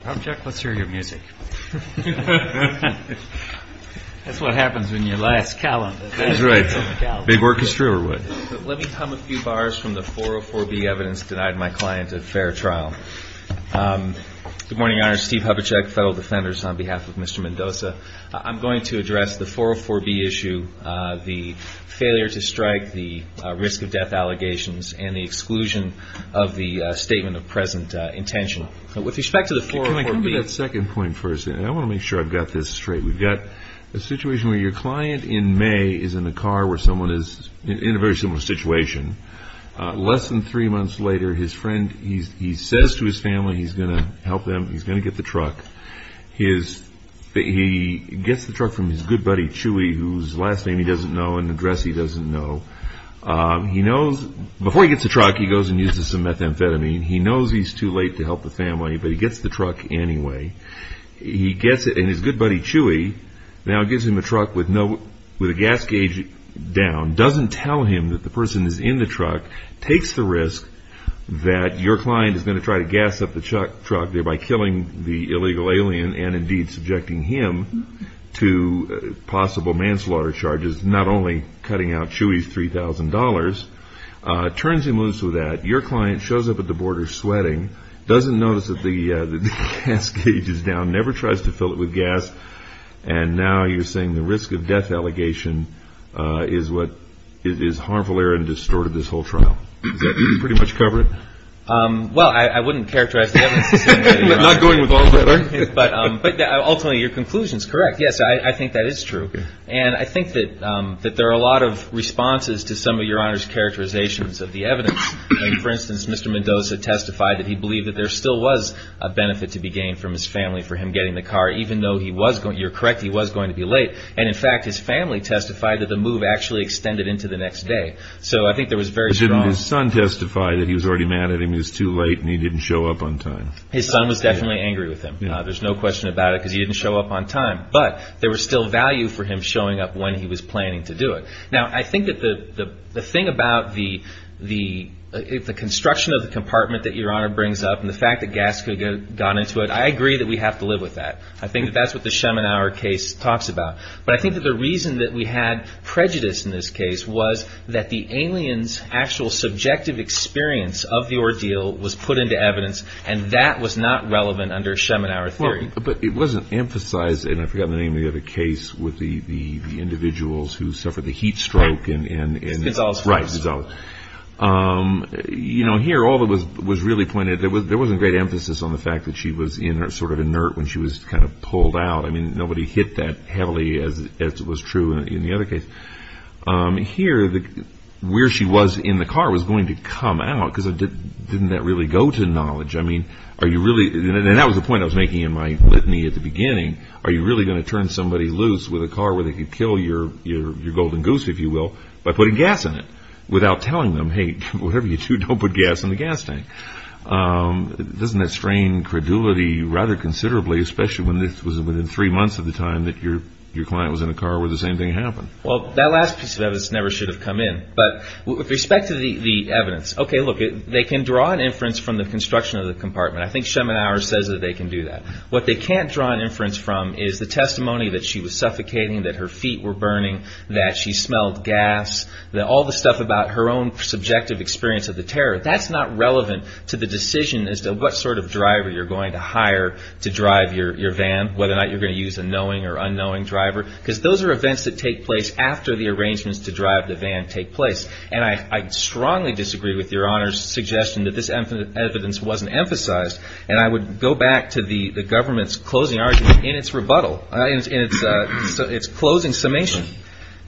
I'm going to address the 404B issue, the failure to strike, the risk of death allegations, and the exclusion of the statement of present intention. Can I come to that second point first? I want to make sure I've got this straight. We've got a situation where your client in May is in a car where someone is in a very similar situation. Less than three months later, his friend, he says to his family he's going to help them, he's going to get the truck. He gets the truck from his good buddy, Chewy, whose last name he doesn't know and address he doesn't know. Before he gets the truck, he goes and uses some methamphetamine. He knows he's too late to help the family, but he gets the truck anyway. He gets it, and his good buddy, Chewy, now gives him the truck with a gas gauge down, doesn't tell him that the person is in the truck, takes the risk that your client is going to try to gas up the truck, thereby killing the illegal alien, and indeed subjecting him to possible manslaughter charges, not only cutting out Chewy's $3,000, turns him loose with that. Your client shows up at the border sweating, doesn't notice that the gas gauge is down, never tries to fill it with gas, and now you're saying the risk of death allegation is harmful error and distorted this whole trial. Does that pretty much cover it? Well, I wouldn't characterize the evidence. Not going with all that, are you? Ultimately, your conclusion is correct. Yes, I think that is true, and I think that there are a lot of responses to some of Your Honor's characterizations of the evidence. For instance, Mr. Mendoza testified that he believed that there still was a benefit to be gained from his family for him getting the car, even though you're correct, he was going to be late. In fact, his family testified that the move actually extended into the next day. Didn't his son testify that he was already mad at him, he was too late, and he didn't show up on time? His son was definitely angry with him. There's no question about it because he didn't show up on time. But there was still value for him showing up when he was planning to do it. Now, I think that the thing about the construction of the compartment that Your Honor brings up and the fact that gas could have gone into it, I agree that we have to live with that. I think that that's what the Schemenauer case talks about. But I think that the reason that we had prejudice in this case was that the alien's actual subjective experience of the ordeal was put into evidence, and that was not relevant under Schemenauer theory. But it wasn't emphasized, and I forgot the name of the other case, with the individuals who suffered the heat stroke. Mr. Gonzales. Right, Mr. Gonzales. Here, all that was really pointed, there wasn't great emphasis on the fact that she was sort of inert when she was kind of pulled out. I mean, nobody hit that heavily as was true in the other case. Here, where she was in the car was going to come out because didn't that really go to knowledge? I mean, are you really, and that was the point I was making in my litany at the beginning, are you really going to turn somebody loose with a car where they could kill your golden goose, if you will, by putting gas in it without telling them, hey, whatever you do, don't put gas in the gas tank. Doesn't that strain credulity rather considerably, especially when this was within three months of the time that your client was in a car where the same thing happened? Well, that last piece of evidence never should have come in. But with respect to the evidence, okay, look, they can draw an inference from the construction of the compartment. I think Schemenauer says that they can do that. What they can't draw an inference from is the testimony that she was suffocating, that her feet were burning, that she smelled gas, all the stuff about her own subjective experience of the terror. That's not relevant to the decision as to what sort of driver you're going to hire to drive your van, whether or not you're going to use a knowing or unknowing driver, because those are events that take place after the arrangements to drive the van take place. And I strongly disagree with Your Honor's suggestion that this evidence wasn't emphasized. And I would go back to the government's closing argument in its rebuttal, in its closing summation.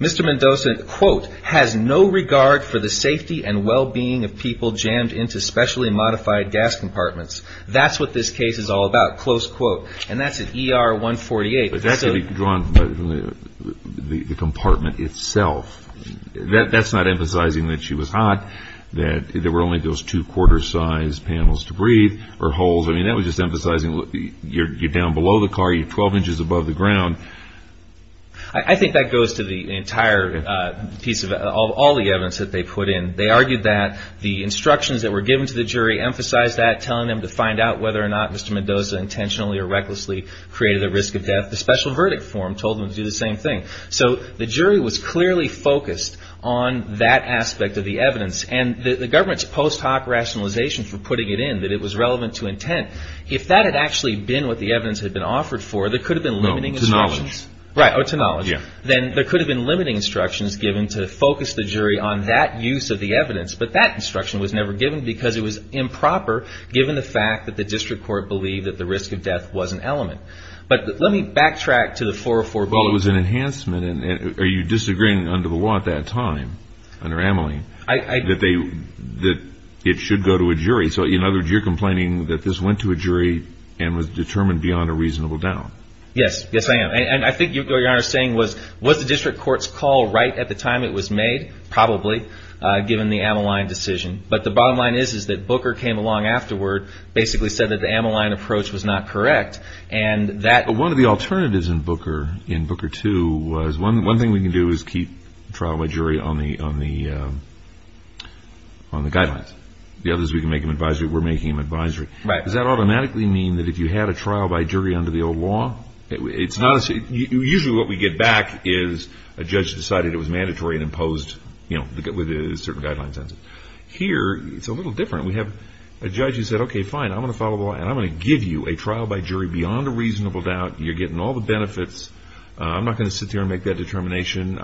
Mr. Mendoza, quote, has no regard for the safety and well-being of people jammed into specially modified gas compartments. That's what this case is all about, close quote. And that's at ER 148. But that could be drawn from the compartment itself. That's not emphasizing that she was hot, that there were only those two quarter-sized panels to breathe or holes. I mean, that was just emphasizing you're down below the car, you're 12 inches above the ground. I think that goes to the entire piece of all the evidence that they put in. They argued that the instructions that were given to the jury emphasized that, telling them to find out whether or not Mr. Mendoza intentionally or recklessly created a risk of death. The special verdict form told them to do the same thing. So the jury was clearly focused on that aspect of the evidence. And the government's post hoc rationalization for putting it in, that it was relevant to intent, if that had actually been what the evidence had been offered for, there could have been limiting. To knowledge. Right, to knowledge. Then there could have been limiting instructions given to focus the jury on that use of the evidence. But that instruction was never given because it was improper, given the fact that the district court believed that the risk of death was an element. But let me backtrack to the 404 bulletin. Well, it was an enhancement. Are you disagreeing under the Watt that time, under Amelie, that it should go to a jury? So in other words, you're complaining that this went to a jury and was determined beyond a reasonable doubt. Yes, yes I am. And I think what you're saying was, was the district court's call right at the time it was made? Probably, given the Ameline decision. But the bottom line is, is that Booker came along afterward, basically said that the Ameline approach was not correct. But one of the alternatives in Booker, in Booker II, was one thing we can do is keep trial by jury on the guidelines. The other is we can make them advisory. We're making them advisory. Does that automatically mean that if you had a trial by jury under the old law? Usually what we get back is a judge decided it was mandatory and imposed certain guidelines on it. Here, it's a little different. We have a judge who said, okay, fine, I'm going to follow the law, and I'm going to give you a trial by jury beyond a reasonable doubt. You're getting all the benefits. I'm not going to sit here and make that determination.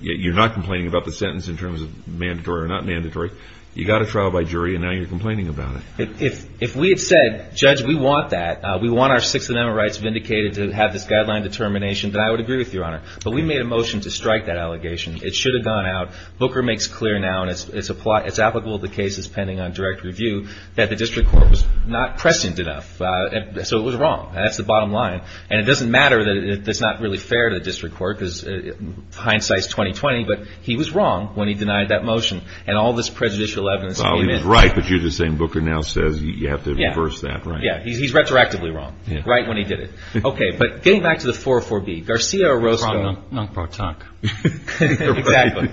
You're not complaining about the sentence in terms of mandatory or not mandatory. You got a trial by jury, and now you're complaining about it. If we had said, judge, we want that, we want our 6 amendment rights vindicated to have this guideline determination, then I would agree with you, Your Honor. But we made a motion to strike that allegation. It should have gone out. Booker makes clear now, and it's applicable to cases pending on direct review, that the district court was not prescient enough. So it was wrong. That's the bottom line. And it doesn't matter that it's not really fair to the district court, because hindsight is 20-20, but he was wrong when he denied that motion. And all this prejudicial evidence came in. Well, he was right, but you're just saying Booker now says you have to reverse that, right? Yeah, he's retroactively wrong, right when he did it. Okay, but getting back to the 404B, Garcia Orozco. From Non-Protect. Exactly.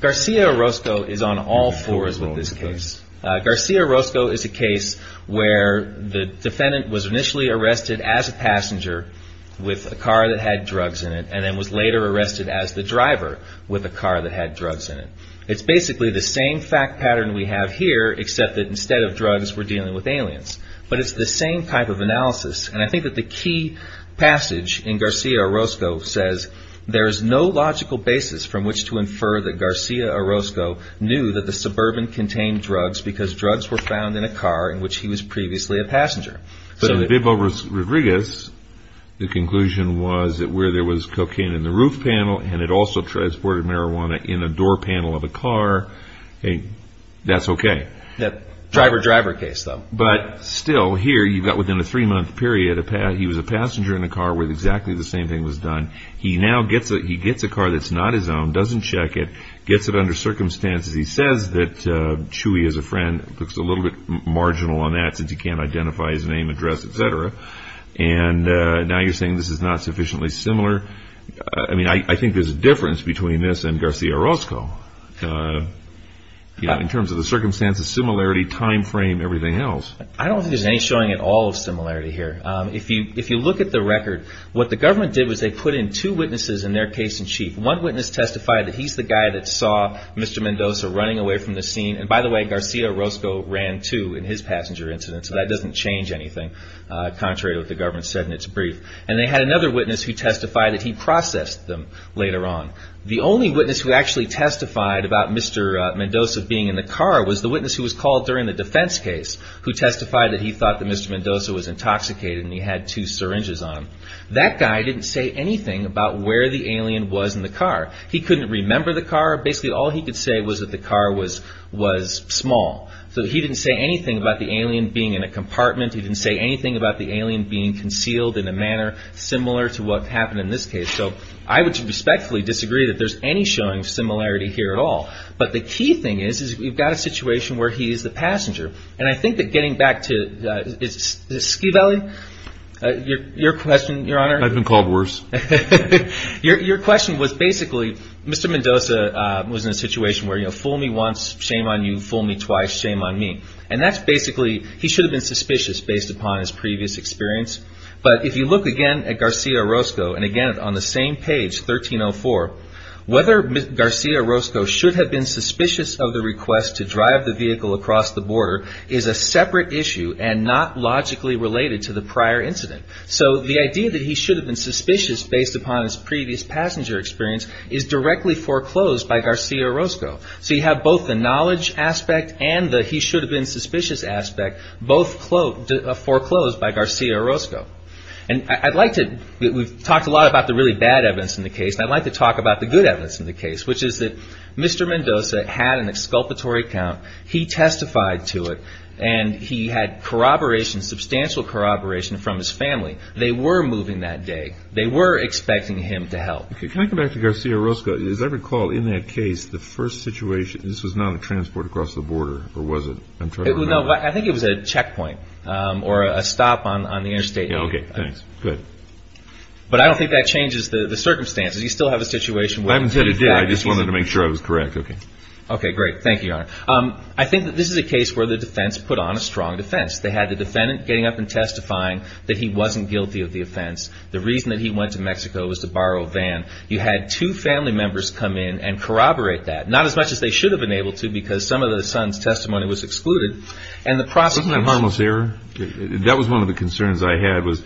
Garcia Orozco is on all fours with this case. Garcia Orozco is a case where the defendant was initially arrested as a passenger with a car that had drugs in it, and then was later arrested as the driver with a car that had drugs in it. It's basically the same fact pattern we have here, except that instead of drugs we're dealing with aliens. But it's the same type of analysis. And I think that the key passage in Garcia Orozco says there is no logical basis from which to infer that Garcia Orozco knew that the suburban contained drugs because drugs were found in a car in which he was previously a passenger. But in Vivo Rodriguez, the conclusion was that where there was cocaine in the roof panel and it also transported marijuana in a door panel of a car, that's okay. Driver-driver case, though. But still, here you've got within a three-month period, he was a passenger in a car where exactly the same thing was done. He now gets a car that's not his own, doesn't check it, gets it under circumstances. He says that Chewy is a friend. Looks a little bit marginal on that since he can't identify his name, address, etc. And now you're saying this is not sufficiently similar. I mean, I think there's a difference between this and Garcia Orozco in terms of the circumstances, similarity, time frame, everything else. I don't think there's any showing at all of similarity here. If you look at the record, what the government did was they put in two witnesses in their case-in-chief. One witness testified that he's the guy that saw Mr. Mendoza running away from the scene. And by the way, Garcia Orozco ran, too, in his passenger incident. So that doesn't change anything, contrary to what the government said in its brief. And they had another witness who testified that he processed them later on. The only witness who actually testified about Mr. Mendoza being in the car was the witness who was called during the defense case who testified that he thought that Mr. Mendoza was intoxicated and he had two syringes on him. That guy didn't say anything about where the alien was in the car. He couldn't remember the car. Basically, all he could say was that the car was small. So he didn't say anything about the alien being in a compartment. He didn't say anything about the alien being concealed in a manner similar to what happened in this case. So I would respectfully disagree that there's any showing of similarity here at all. But the key thing is, is we've got a situation where he is the passenger. And I think that getting back to Ski Valley, your question, Your Honor? I've been called worse. Your question was basically Mr. Mendoza was in a situation where, you know, fool me once, shame on you. Fool me twice, shame on me. And that's basically he should have been suspicious based upon his previous experience. But if you look again at Garcia-Roscoe and again on the same page, 1304, whether Garcia-Roscoe should have been suspicious of the request to drive the vehicle across the border is a separate issue and not logically related to the prior incident. So the idea that he should have been suspicious based upon his previous passenger experience is directly foreclosed by Garcia-Roscoe. So you have both the knowledge aspect and the he should have been suspicious aspect both foreclosed by Garcia-Roscoe. And I'd like to we've talked a lot about the really bad evidence in the case. I'd like to talk about the good evidence in the case, which is that Mr. Mendoza had an exculpatory account. He testified to it. And he had corroboration, substantial corroboration from his family. They were moving that day. They were expecting him to help. Can I go back to Garcia-Roscoe? As I recall, in that case, the first situation, this was not a transport across the border, or was it? I'm trying to remember. No, I think it was a checkpoint or a stop on the interstate. Okay, thanks. Good. But I don't think that changes the circumstances. You still have a situation. I haven't said it did. I just wanted to make sure I was correct. Okay. Okay, great. Thank you, Your Honor. I think that this is a case where the defense put on a strong defense. They had the defendant getting up and testifying that he wasn't guilty of the offense. The reason that he went to Mexico was to borrow a van. You had two family members come in and corroborate that. Not as much as they should have been able to, because some of the son's testimony was excluded. And the prosecution- Wasn't that a harmless error? That was one of the concerns I had, was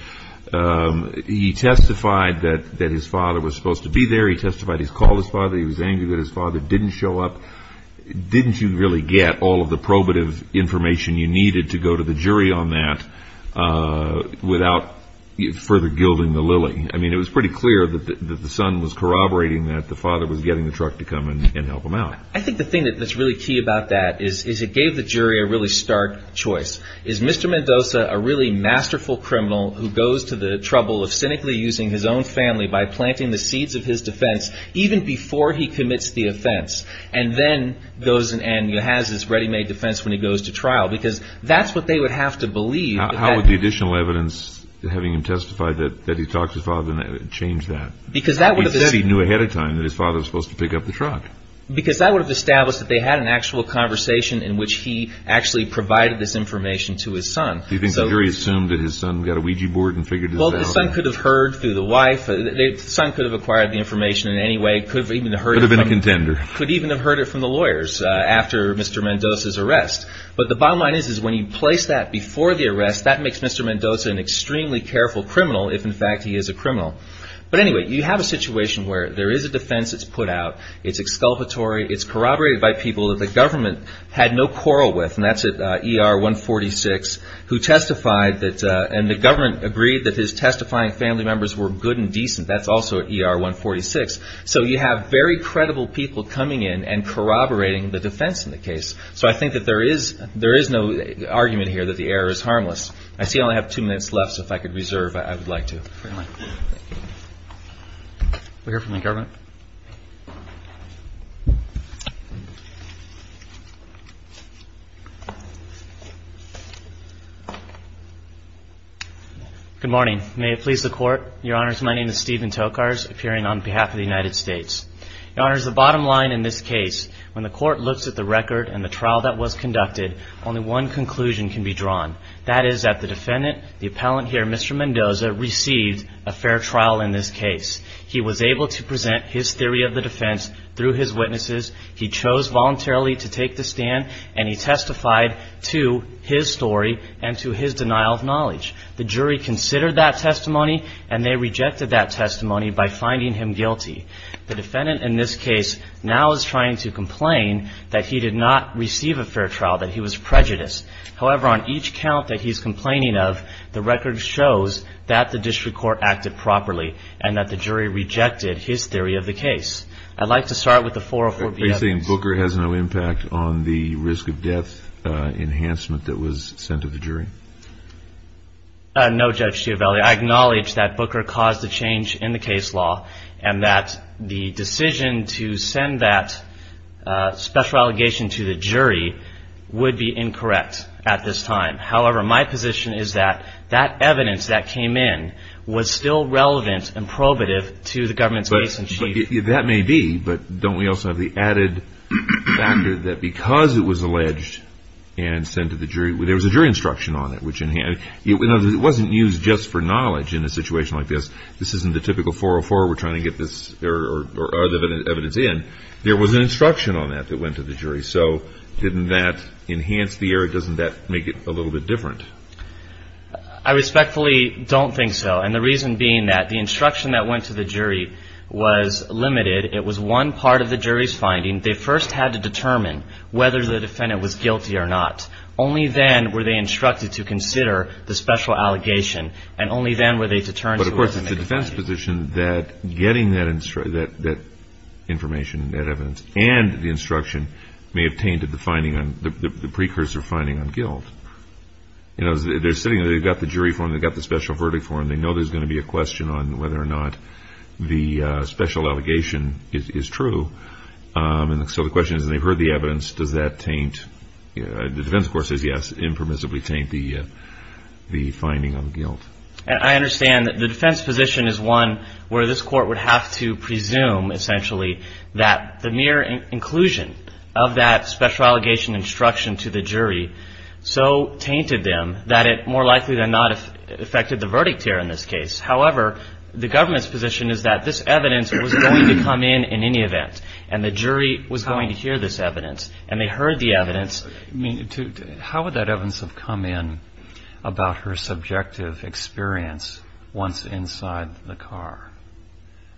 he testified that his father was supposed to be there. He testified he called his father. He was angry that his father didn't show up. Didn't you really get all of the probative information you needed to go to the jury on that without further gilding the lily? I mean, it was pretty clear that the son was corroborating that the father was getting the truck to come and help him out. I think the thing that's really key about that is it gave the jury a really stark choice. Is Mr. Mendoza a really masterful criminal who goes to the trouble of cynically using his own family by planting the seeds of his defense, even before he commits the offense, and then goes and has his ready-made defense when he goes to trial? Because that's what they would have to believe. How would the additional evidence having him testify that he talked to his father change that? Because that would have- He said he knew ahead of time that his father was supposed to pick up the truck. Because that would have established that they had an actual conversation in which he actually provided this information to his son. Do you think the jury assumed that his son got a Ouija board and figured this out? Well, the son could have heard through the wife. The son could have acquired the information in any way. Could have even heard it from- Could have been a contender. Could even have heard it from the lawyers after Mr. Mendoza's arrest. But the bottom line is when you place that before the arrest, that makes Mr. Mendoza an extremely careful criminal, if in fact he is a criminal. But anyway, you have a situation where there is a defense that's put out. It's exculpatory. It's corroborated by people that the government had no quarrel with. And that's at ER 146, who testified that- And the government agreed that his testifying family members were good and decent. That's also at ER 146. So you have very credible people coming in and corroborating the defense in the case. So I think that there is no argument here that the error is harmless. I see I only have two minutes left, so if I could reserve, I would like to. Fair enough. Thank you. We'll hear from the government. Good morning. May it please the Court. Your Honors, my name is Stephen Tokars, appearing on behalf of the United States. Your Honors, the bottom line in this case, when the Court looks at the record and the trial that was conducted, only one conclusion can be drawn. That is that the defendant, the appellant here, Mr. Mendoza, received a fair trial in this case. He was able to present his theory of the defense through his witnesses. He chose voluntarily to take the stand, and he testified to his story and to his denial of knowledge. The jury considered that testimony, and they rejected that testimony by finding him guilty. The defendant in this case now is trying to complain that he did not receive a fair trial, that he was prejudiced. However, on each count that he's complaining of, the record shows that the district court acted properly and that the jury rejected his theory of the case. I'd like to start with the 404-B evidence. Are you saying Booker has no impact on the risk of death enhancement that was sent to the jury? No, Judge Giovelli. I acknowledge that Booker caused a change in the case law and that the decision to send that special allegation to the jury would be incorrect at this time. However, my position is that that evidence that came in was still relevant and probative to the government's case in chief. That may be, but don't we also have the added factor that because it was alleged and sent to the jury, there was a jury instruction on it, which it wasn't used just for knowledge in a situation like this. This isn't the typical 404 we're trying to get this evidence in. There was an instruction on that that went to the jury. So didn't that enhance the error? Doesn't that make it a little bit different? I respectfully don't think so, and the reason being that the instruction that went to the jury was limited. It was one part of the jury's finding. They first had to determine whether the defendant was guilty or not. Only then were they instructed to consider the special allegation, and only then were they to turn to us. But, of course, it's the defense's position that getting that information, that evidence, and the instruction may have tainted the precursor finding on guilt. They're sitting there. They've got the jury form. They've got the special verdict form. They know there's going to be a question on whether or not the special allegation is true. The defense, of course, says yes, impermissibly taint the finding on guilt. I understand that the defense position is one where this court would have to presume, essentially, that the mere inclusion of that special allegation instruction to the jury so tainted them that it more likely than not affected the verdict here in this case. However, the government's position is that this evidence was going to come in in any event, and the jury was going to hear this evidence, and they heard the evidence. I mean, how would that evidence have come in about her subjective experience once inside the car?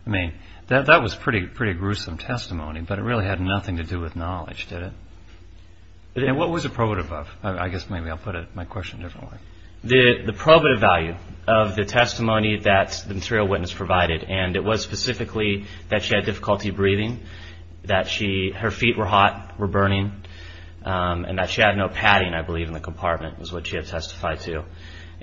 I mean, that was pretty gruesome testimony, but it really had nothing to do with knowledge, did it? And what was the probative of? I guess maybe I'll put my question a different way. The probative value of the testimony that the material witness provided, and it was specifically that she had difficulty breathing, that her feet were hot, were burning, and that she had no padding, I believe, in the compartment was what she had testified to.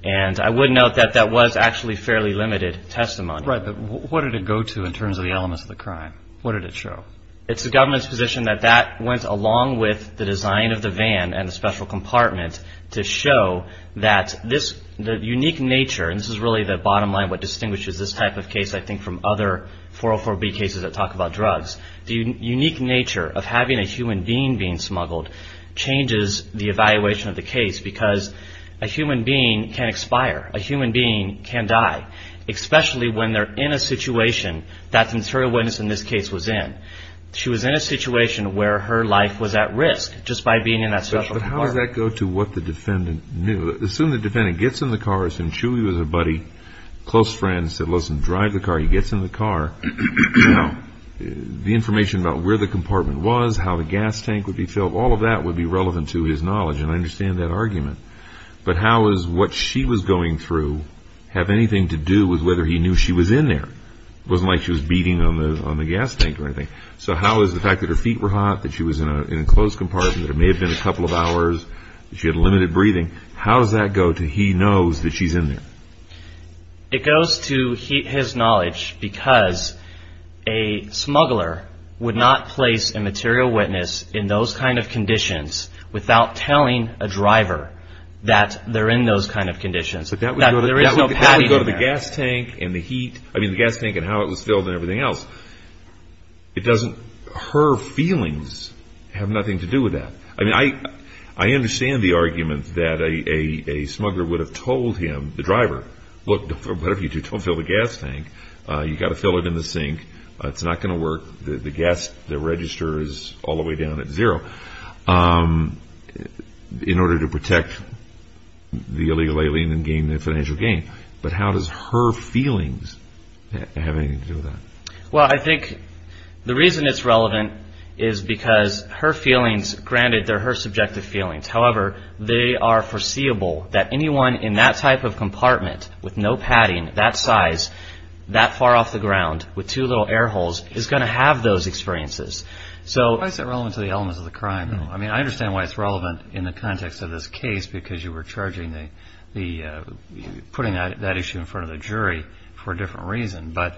And I would note that that was actually fairly limited testimony. Right, but what did it go to in terms of the elements of the crime? What did it show? It's the government's position that that went along with the design of the van and the special compartment to show that the unique nature, and this is really the bottom line of what distinguishes this type of case, I think, from other 404B cases that talk about drugs, the unique nature of having a human being being smuggled changes the evaluation of the case because a human being can expire, a human being can die, especially when they're in a situation that the material witness in this case was in. She was in a situation where her life was at risk just by being in that special compartment. But how does that go to what the defendant knew? Assume the defendant gets in the car. Assume Chewie was a buddy, close friend, said, listen, drive the car. He gets in the car. Now, the information about where the compartment was, how the gas tank would be filled, all of that would be relevant to his knowledge, and I understand that argument. But how does what she was going through have anything to do with whether he knew she was in there? It wasn't like she was beating on the gas tank or anything. So how is the fact that her feet were hot, that she was in a closed compartment, that it may have been a couple of hours, that she had limited breathing, how does that go to he knows that she's in there? It goes to his knowledge because a smuggler would not place a material witness in those kind of conditions without telling a driver that they're in those kind of conditions. But that would go to the gas tank and the heat, I mean, the gas tank and how it was filled and everything else. It doesn't – her feelings have nothing to do with that. I mean, I understand the argument that a smuggler would have told him, the driver, look, whatever you do, don't fill the gas tank. You've got to fill it in the sink. It's not going to work. The gas, the register is all the way down at zero in order to protect the illegal alien and gain the financial gain. But how does her feelings have anything to do with that? Well, I think the reason it's relevant is because her feelings, granted, they're her subjective feelings. However, they are foreseeable that anyone in that type of compartment with no padding, that size, that far off the ground with two little air holes is going to have those experiences. Why is that relevant to the elements of the crime? I mean, I understand why it's relevant in the context of this case because you were putting that issue in front of the jury for a different reason. But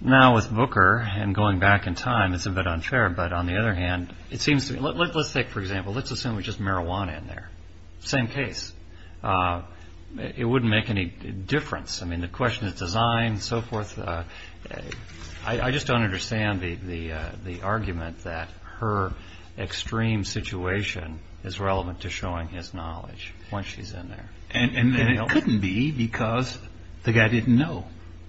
now with Booker and going back in time, it's a bit unfair. But on the other hand, it seems to me, let's take, for example, let's assume it's just marijuana in there. Same case. It wouldn't make any difference. I mean, the question is design and so forth. I just don't understand the argument that her extreme situation is relevant to showing his knowledge once she's in there. And it couldn't be because the guy didn't know.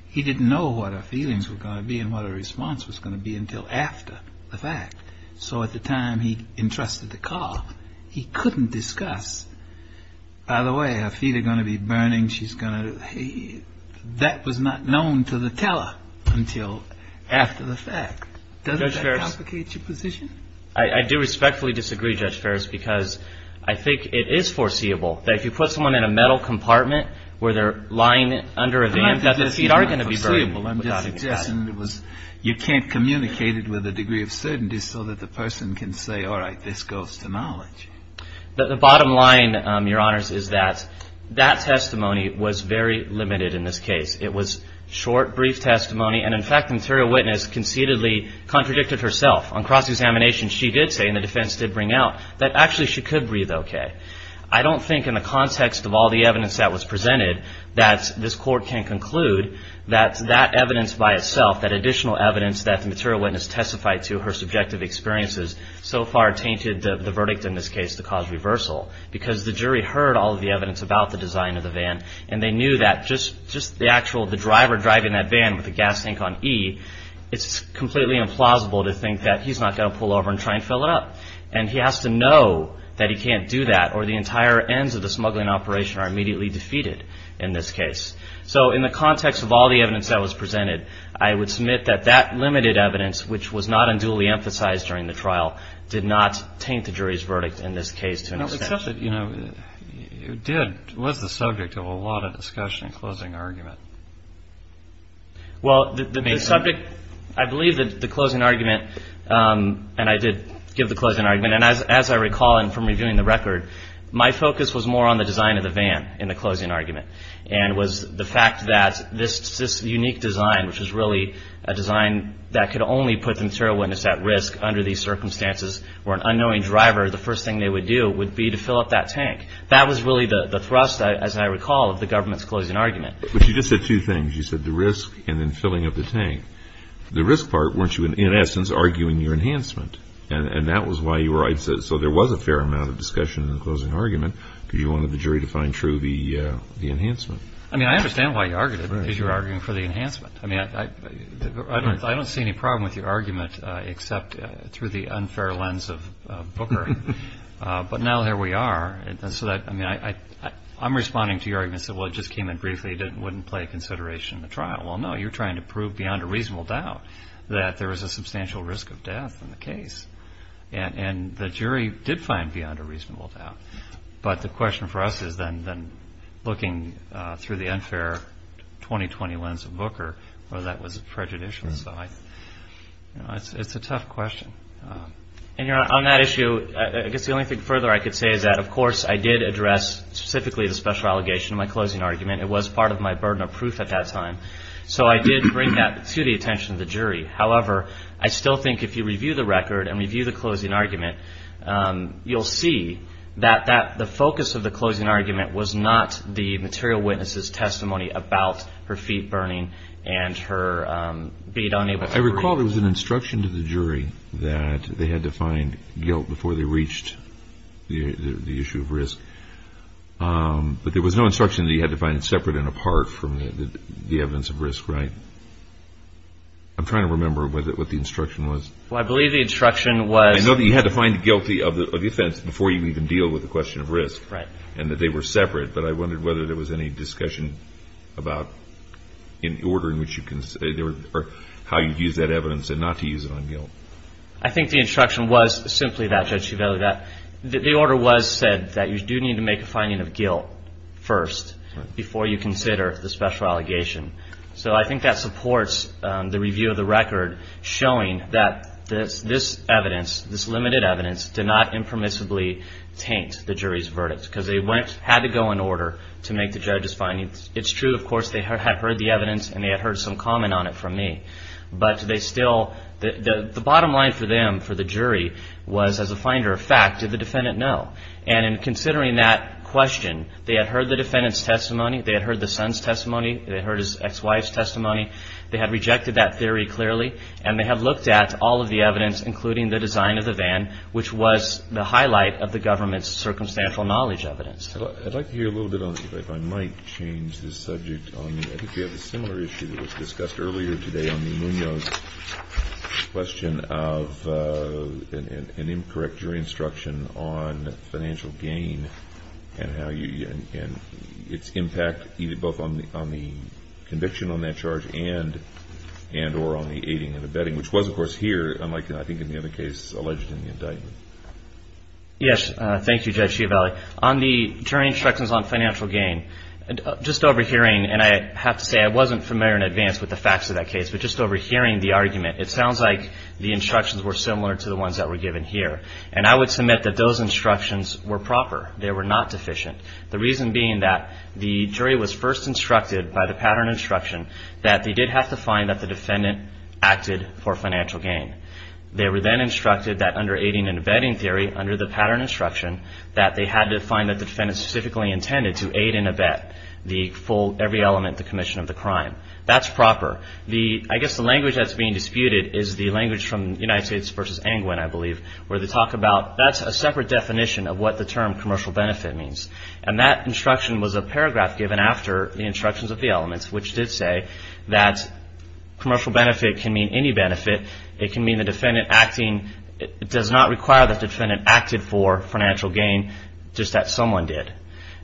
He didn't know what her feelings were going to be and what her response was going to be until after the fact. So at the time he entrusted the car, he couldn't discuss. By the way, her feet are going to be burning. She's going to. That was not known to the teller until after the fact. Does that complicate your position? I do respectfully disagree, Judge Ferris, because I think it is foreseeable that if you put someone in a metal compartment where they're lying under a van, that their feet are going to be burning. I'm just suggesting you can't communicate it with a degree of certainty so that the person can say, all right, this goes to knowledge. The bottom line, Your Honors, is that that testimony was very limited in this case. It was short, brief testimony. And, in fact, an interior witness conceitedly contradicted herself on cross-examination. She did say, and the defense did bring out, that actually she could breathe okay. I don't think in the context of all the evidence that was presented that this court can conclude that that evidence by itself, that additional evidence that the material witness testified to, her subjective experiences, so far tainted the verdict in this case to cause reversal. Because the jury heard all of the evidence about the design of the van, and they knew that just the actual driver driving that van with the gas tank on E, it's completely implausible to think that he's not going to pull over and try and fill it up. And he has to know that he can't do that, or the entire ends of the smuggling operation are immediately defeated in this case. So in the context of all the evidence that was presented, I would submit that that limited evidence, which was not unduly emphasized during the trial, did not taint the jury's verdict in this case to an extent. Except that, you know, it was the subject of a lot of discussion and closing argument. Well, the subject, I believe that the closing argument, and I did give the closing argument, and as I recall from reviewing the record, my focus was more on the design of the van in the closing argument, and was the fact that this unique design, which is really a design that could only put the material witness at risk under these circumstances, where an unknowing driver, the first thing they would do would be to fill up that tank. That was really the thrust, as I recall, of the government's closing argument. But you just said two things. You said the risk, and then filling up the tank. The risk part, weren't you, in essence, arguing your enhancement? And that was why you were, so there was a fair amount of discussion in the closing argument, because you wanted the jury to find true the enhancement. I mean, I understand why you argued it, because you were arguing for the enhancement. I mean, I don't see any problem with your argument, except through the unfair lens of Booker. But now here we are. I'm responding to your argument. You said, well, it just came in briefly. It wouldn't play into consideration in the trial. Well, no, you're trying to prove beyond a reasonable doubt that there was a substantial risk of death in the case. And the jury did find beyond a reasonable doubt. But the question for us is then looking through the unfair 2020 lens of Booker, whether that was prejudicial. So it's a tough question. And on that issue, I guess the only thing further I could say is that, of course, I did address specifically the special allegation in my closing argument. It was part of my burden of proof at that time. So I did bring that to the attention of the jury. However, I still think if you review the record and review the closing argument, you'll see that the focus of the closing argument was not the material witness's testimony about her feet burning and her being unable to breathe. I recall there was an instruction to the jury that they had to find guilt before they reached the issue of risk. But there was no instruction that you had to find it separate and apart from the evidence of risk, right? I'm trying to remember what the instruction was. Well, I believe the instruction was. I know that you had to find guilty of the offense before you even deal with the question of risk. Right. And that they were separate. But I wondered whether there was any discussion about in the order in which you considered or how you'd use that evidence and not to use it on guilt. I think the instruction was simply that, Judge Chiavelli, that the order was said that you do need to make a finding of guilt first before you consider the special allegation. So I think that supports the review of the record showing that this evidence, this limited evidence did not impermissibly taint the jury's verdicts and that they had to go in order to make the judge's findings. It's true, of course, they had heard the evidence and they had heard some comment on it from me. But the bottom line for them, for the jury, was as a finder of fact, did the defendant know? And in considering that question, they had heard the defendant's testimony. They had heard the son's testimony. They had heard his ex-wife's testimony. They had rejected that theory clearly. And they had looked at all of the evidence, including the design of the van, which was the highlight of the government's circumstantial knowledge evidence. I'd like to hear a little bit, if I might, change the subject. I think we have a similar issue that was discussed earlier today on the Munoz question of an incorrect jury instruction on financial gain and its impact, both on the conviction on that charge and or on the aiding and abetting, which was, of course, here, unlike I think in the other case alleged in the indictment. Yes. Thank you, Judge Chiavelli. On the jury instructions on financial gain, just overhearing, and I have to say, I wasn't familiar in advance with the facts of that case. But just overhearing the argument, it sounds like the instructions were similar to the ones that were given here. And I would submit that those instructions were proper. They were not deficient. The reason being that the jury was first instructed by the pattern instruction that they did have to find that the defendant acted for financial gain. They were then instructed that under aiding and abetting theory, under the pattern instruction, that they had to find that the defendant specifically intended to aid and abet every element of the commission of the crime. That's proper. I guess the language that's being disputed is the language from United States v. Engwin, I believe, where they talk about that's a separate definition of what the term commercial benefit means. And that instruction was a paragraph given after the instructions of the elements, which did say that commercial benefit can mean any benefit. It can mean the defendant acting. It does not require that the defendant acted for financial gain, just that someone did.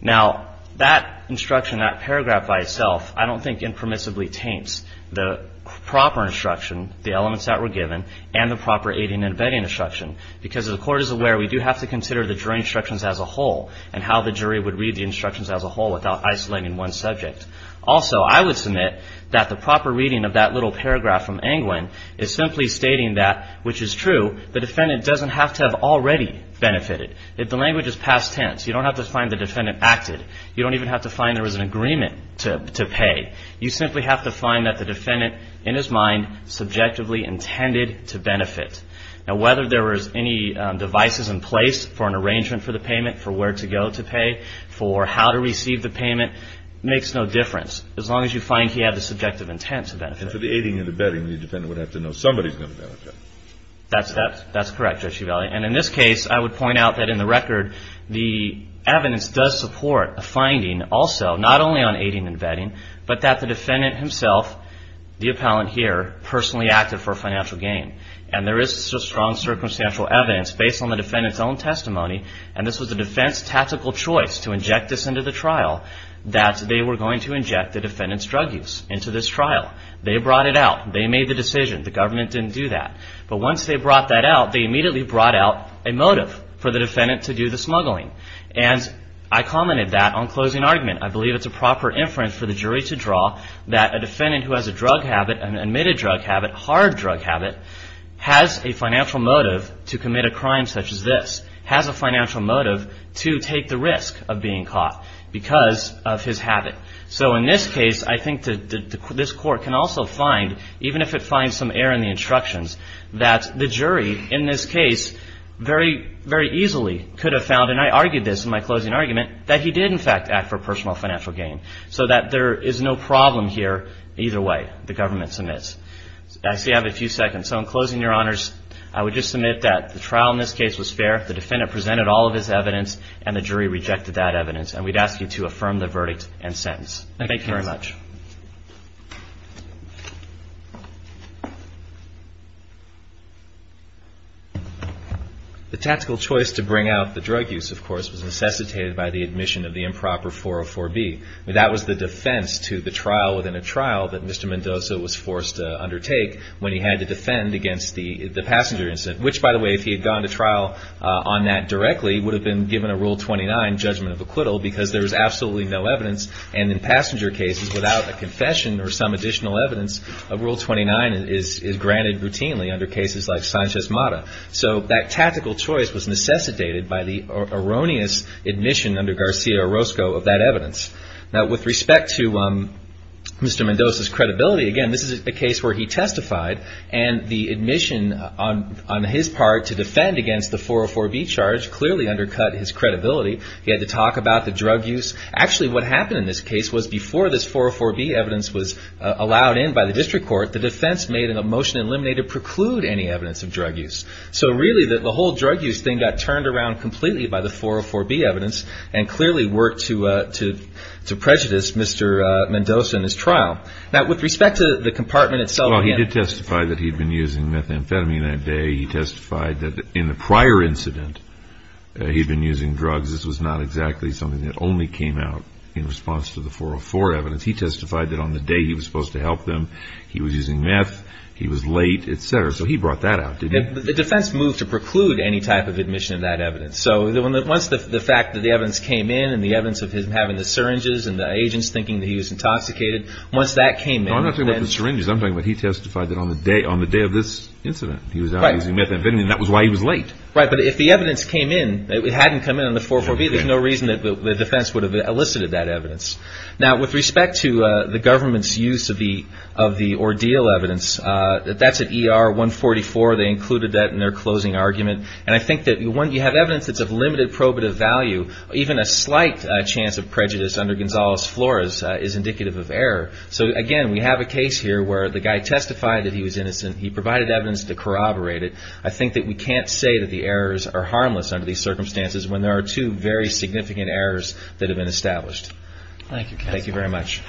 Now, that instruction, that paragraph by itself, I don't think impermissibly taints the proper instruction, the elements that were given, and the proper aiding and abetting instruction. Because the court is aware we do have to consider the jury instructions as a whole and how the jury would read the instructions as a whole without isolating one subject. Also, I would submit that the proper reading of that little paragraph from Engwin is simply stating that, which is true, the defendant doesn't have to have already benefited. The language is past tense. You don't have to find the defendant acted. You don't even have to find there was an agreement to pay. You simply have to find that the defendant, in his mind, subjectively intended to benefit. Now, whether there was any devices in place for an arrangement for the payment, for where to go to pay, for how to receive the payment, makes no difference, as long as you find he had the subjective intent to benefit. And for the aiding and abetting, the defendant would have to know somebody's going to benefit. That's correct, Judge Givaldi. And in this case, I would point out that in the record, the evidence does support a finding also, not only on aiding and abetting, but that the defendant himself, the appellant here, personally acted for financial gain. And there is strong circumstantial evidence based on the defendant's own testimony, and this was a defense tactical choice to inject this into the trial, that they were going to inject the defendant's drug use into this trial. They brought it out. They made the decision. The government didn't do that. But once they brought that out, they immediately brought out a motive for the defendant to do the smuggling. And I commented that on closing argument. I believe it's a proper inference for the jury to draw that a defendant who has a drug habit, an admitted drug habit, hard drug habit, has a financial motive to commit a crime such as this, has a financial motive to take the risk of being caught because of his habit. So in this case, I think this Court can also find, even if it finds some error in the instructions, that the jury in this case very easily could have found, and I argued this in my closing argument, that he did, in fact, act for personal financial gain. So that there is no problem here either way, the government submits. I see I have a few seconds. So in closing, Your Honors, I would just submit that the trial in this case was fair. The defendant presented all of his evidence, and the jury rejected that evidence. And we'd ask you to affirm the verdict and sentence. Thank you very much. The tactical choice to bring out the drug use, of course, was necessitated by the admission of the improper 404B. That was the defense to the trial within a trial that Mr. Mendoza was forced to undertake when he had to defend against the passenger incident. Which, by the way, if he had gone to trial on that directly, would have been given a Rule 29 judgment of acquittal because there was absolutely no evidence. And in passenger cases, without a confession or some additional evidence, a Rule 29 is granted routinely under cases like Sanchez Mata. So that tactical choice was necessitated by the erroneous admission under Garcia Orozco of that evidence. Now, with respect to Mr. Mendoza's credibility, again, this is a case where he testified, and the admission on his part to defend against the 404B charge clearly undercut his credibility. He had to talk about the drug use. Actually, what happened in this case was before this 404B evidence was allowed in by the district court, the defense made a motion to eliminate or preclude any evidence of drug use. So really, the whole drug use thing got turned around completely by the 404B evidence and clearly worked to prejudice Mr. Mendoza in his trial. Now, with respect to the compartment itself. Well, he did testify that he had been using methamphetamine that day. He testified that in the prior incident, he had been using drugs. This was not exactly something that only came out in response to the 404 evidence. He testified that on the day he was supposed to help them, he was using meth, he was late, et cetera. So he brought that out, didn't he? The defense moved to preclude any type of admission of that evidence. So once the fact that the evidence came in and the evidence of him having the syringes and the agents thinking that he was intoxicated, once that came in. No, I'm not talking about the syringes. I'm talking about he testified that on the day of this incident, he was out using methamphetamine. That was why he was late. Right, but if the evidence came in, it hadn't come in on the 404B, there's no reason that the defense would have elicited that evidence. Now, with respect to the government's use of the ordeal evidence, that's at ER 144. They included that in their closing argument. And I think that when you have evidence that's of limited probative value, even a slight chance of prejudice under Gonzalez-Flores is indicative of error. So, again, we have a case here where the guy testified that he was innocent. He provided evidence to corroborate it. I think that we can't say that the errors are harmless under these circumstances when there are two very significant errors that have been established. Thank you. Thank you very much.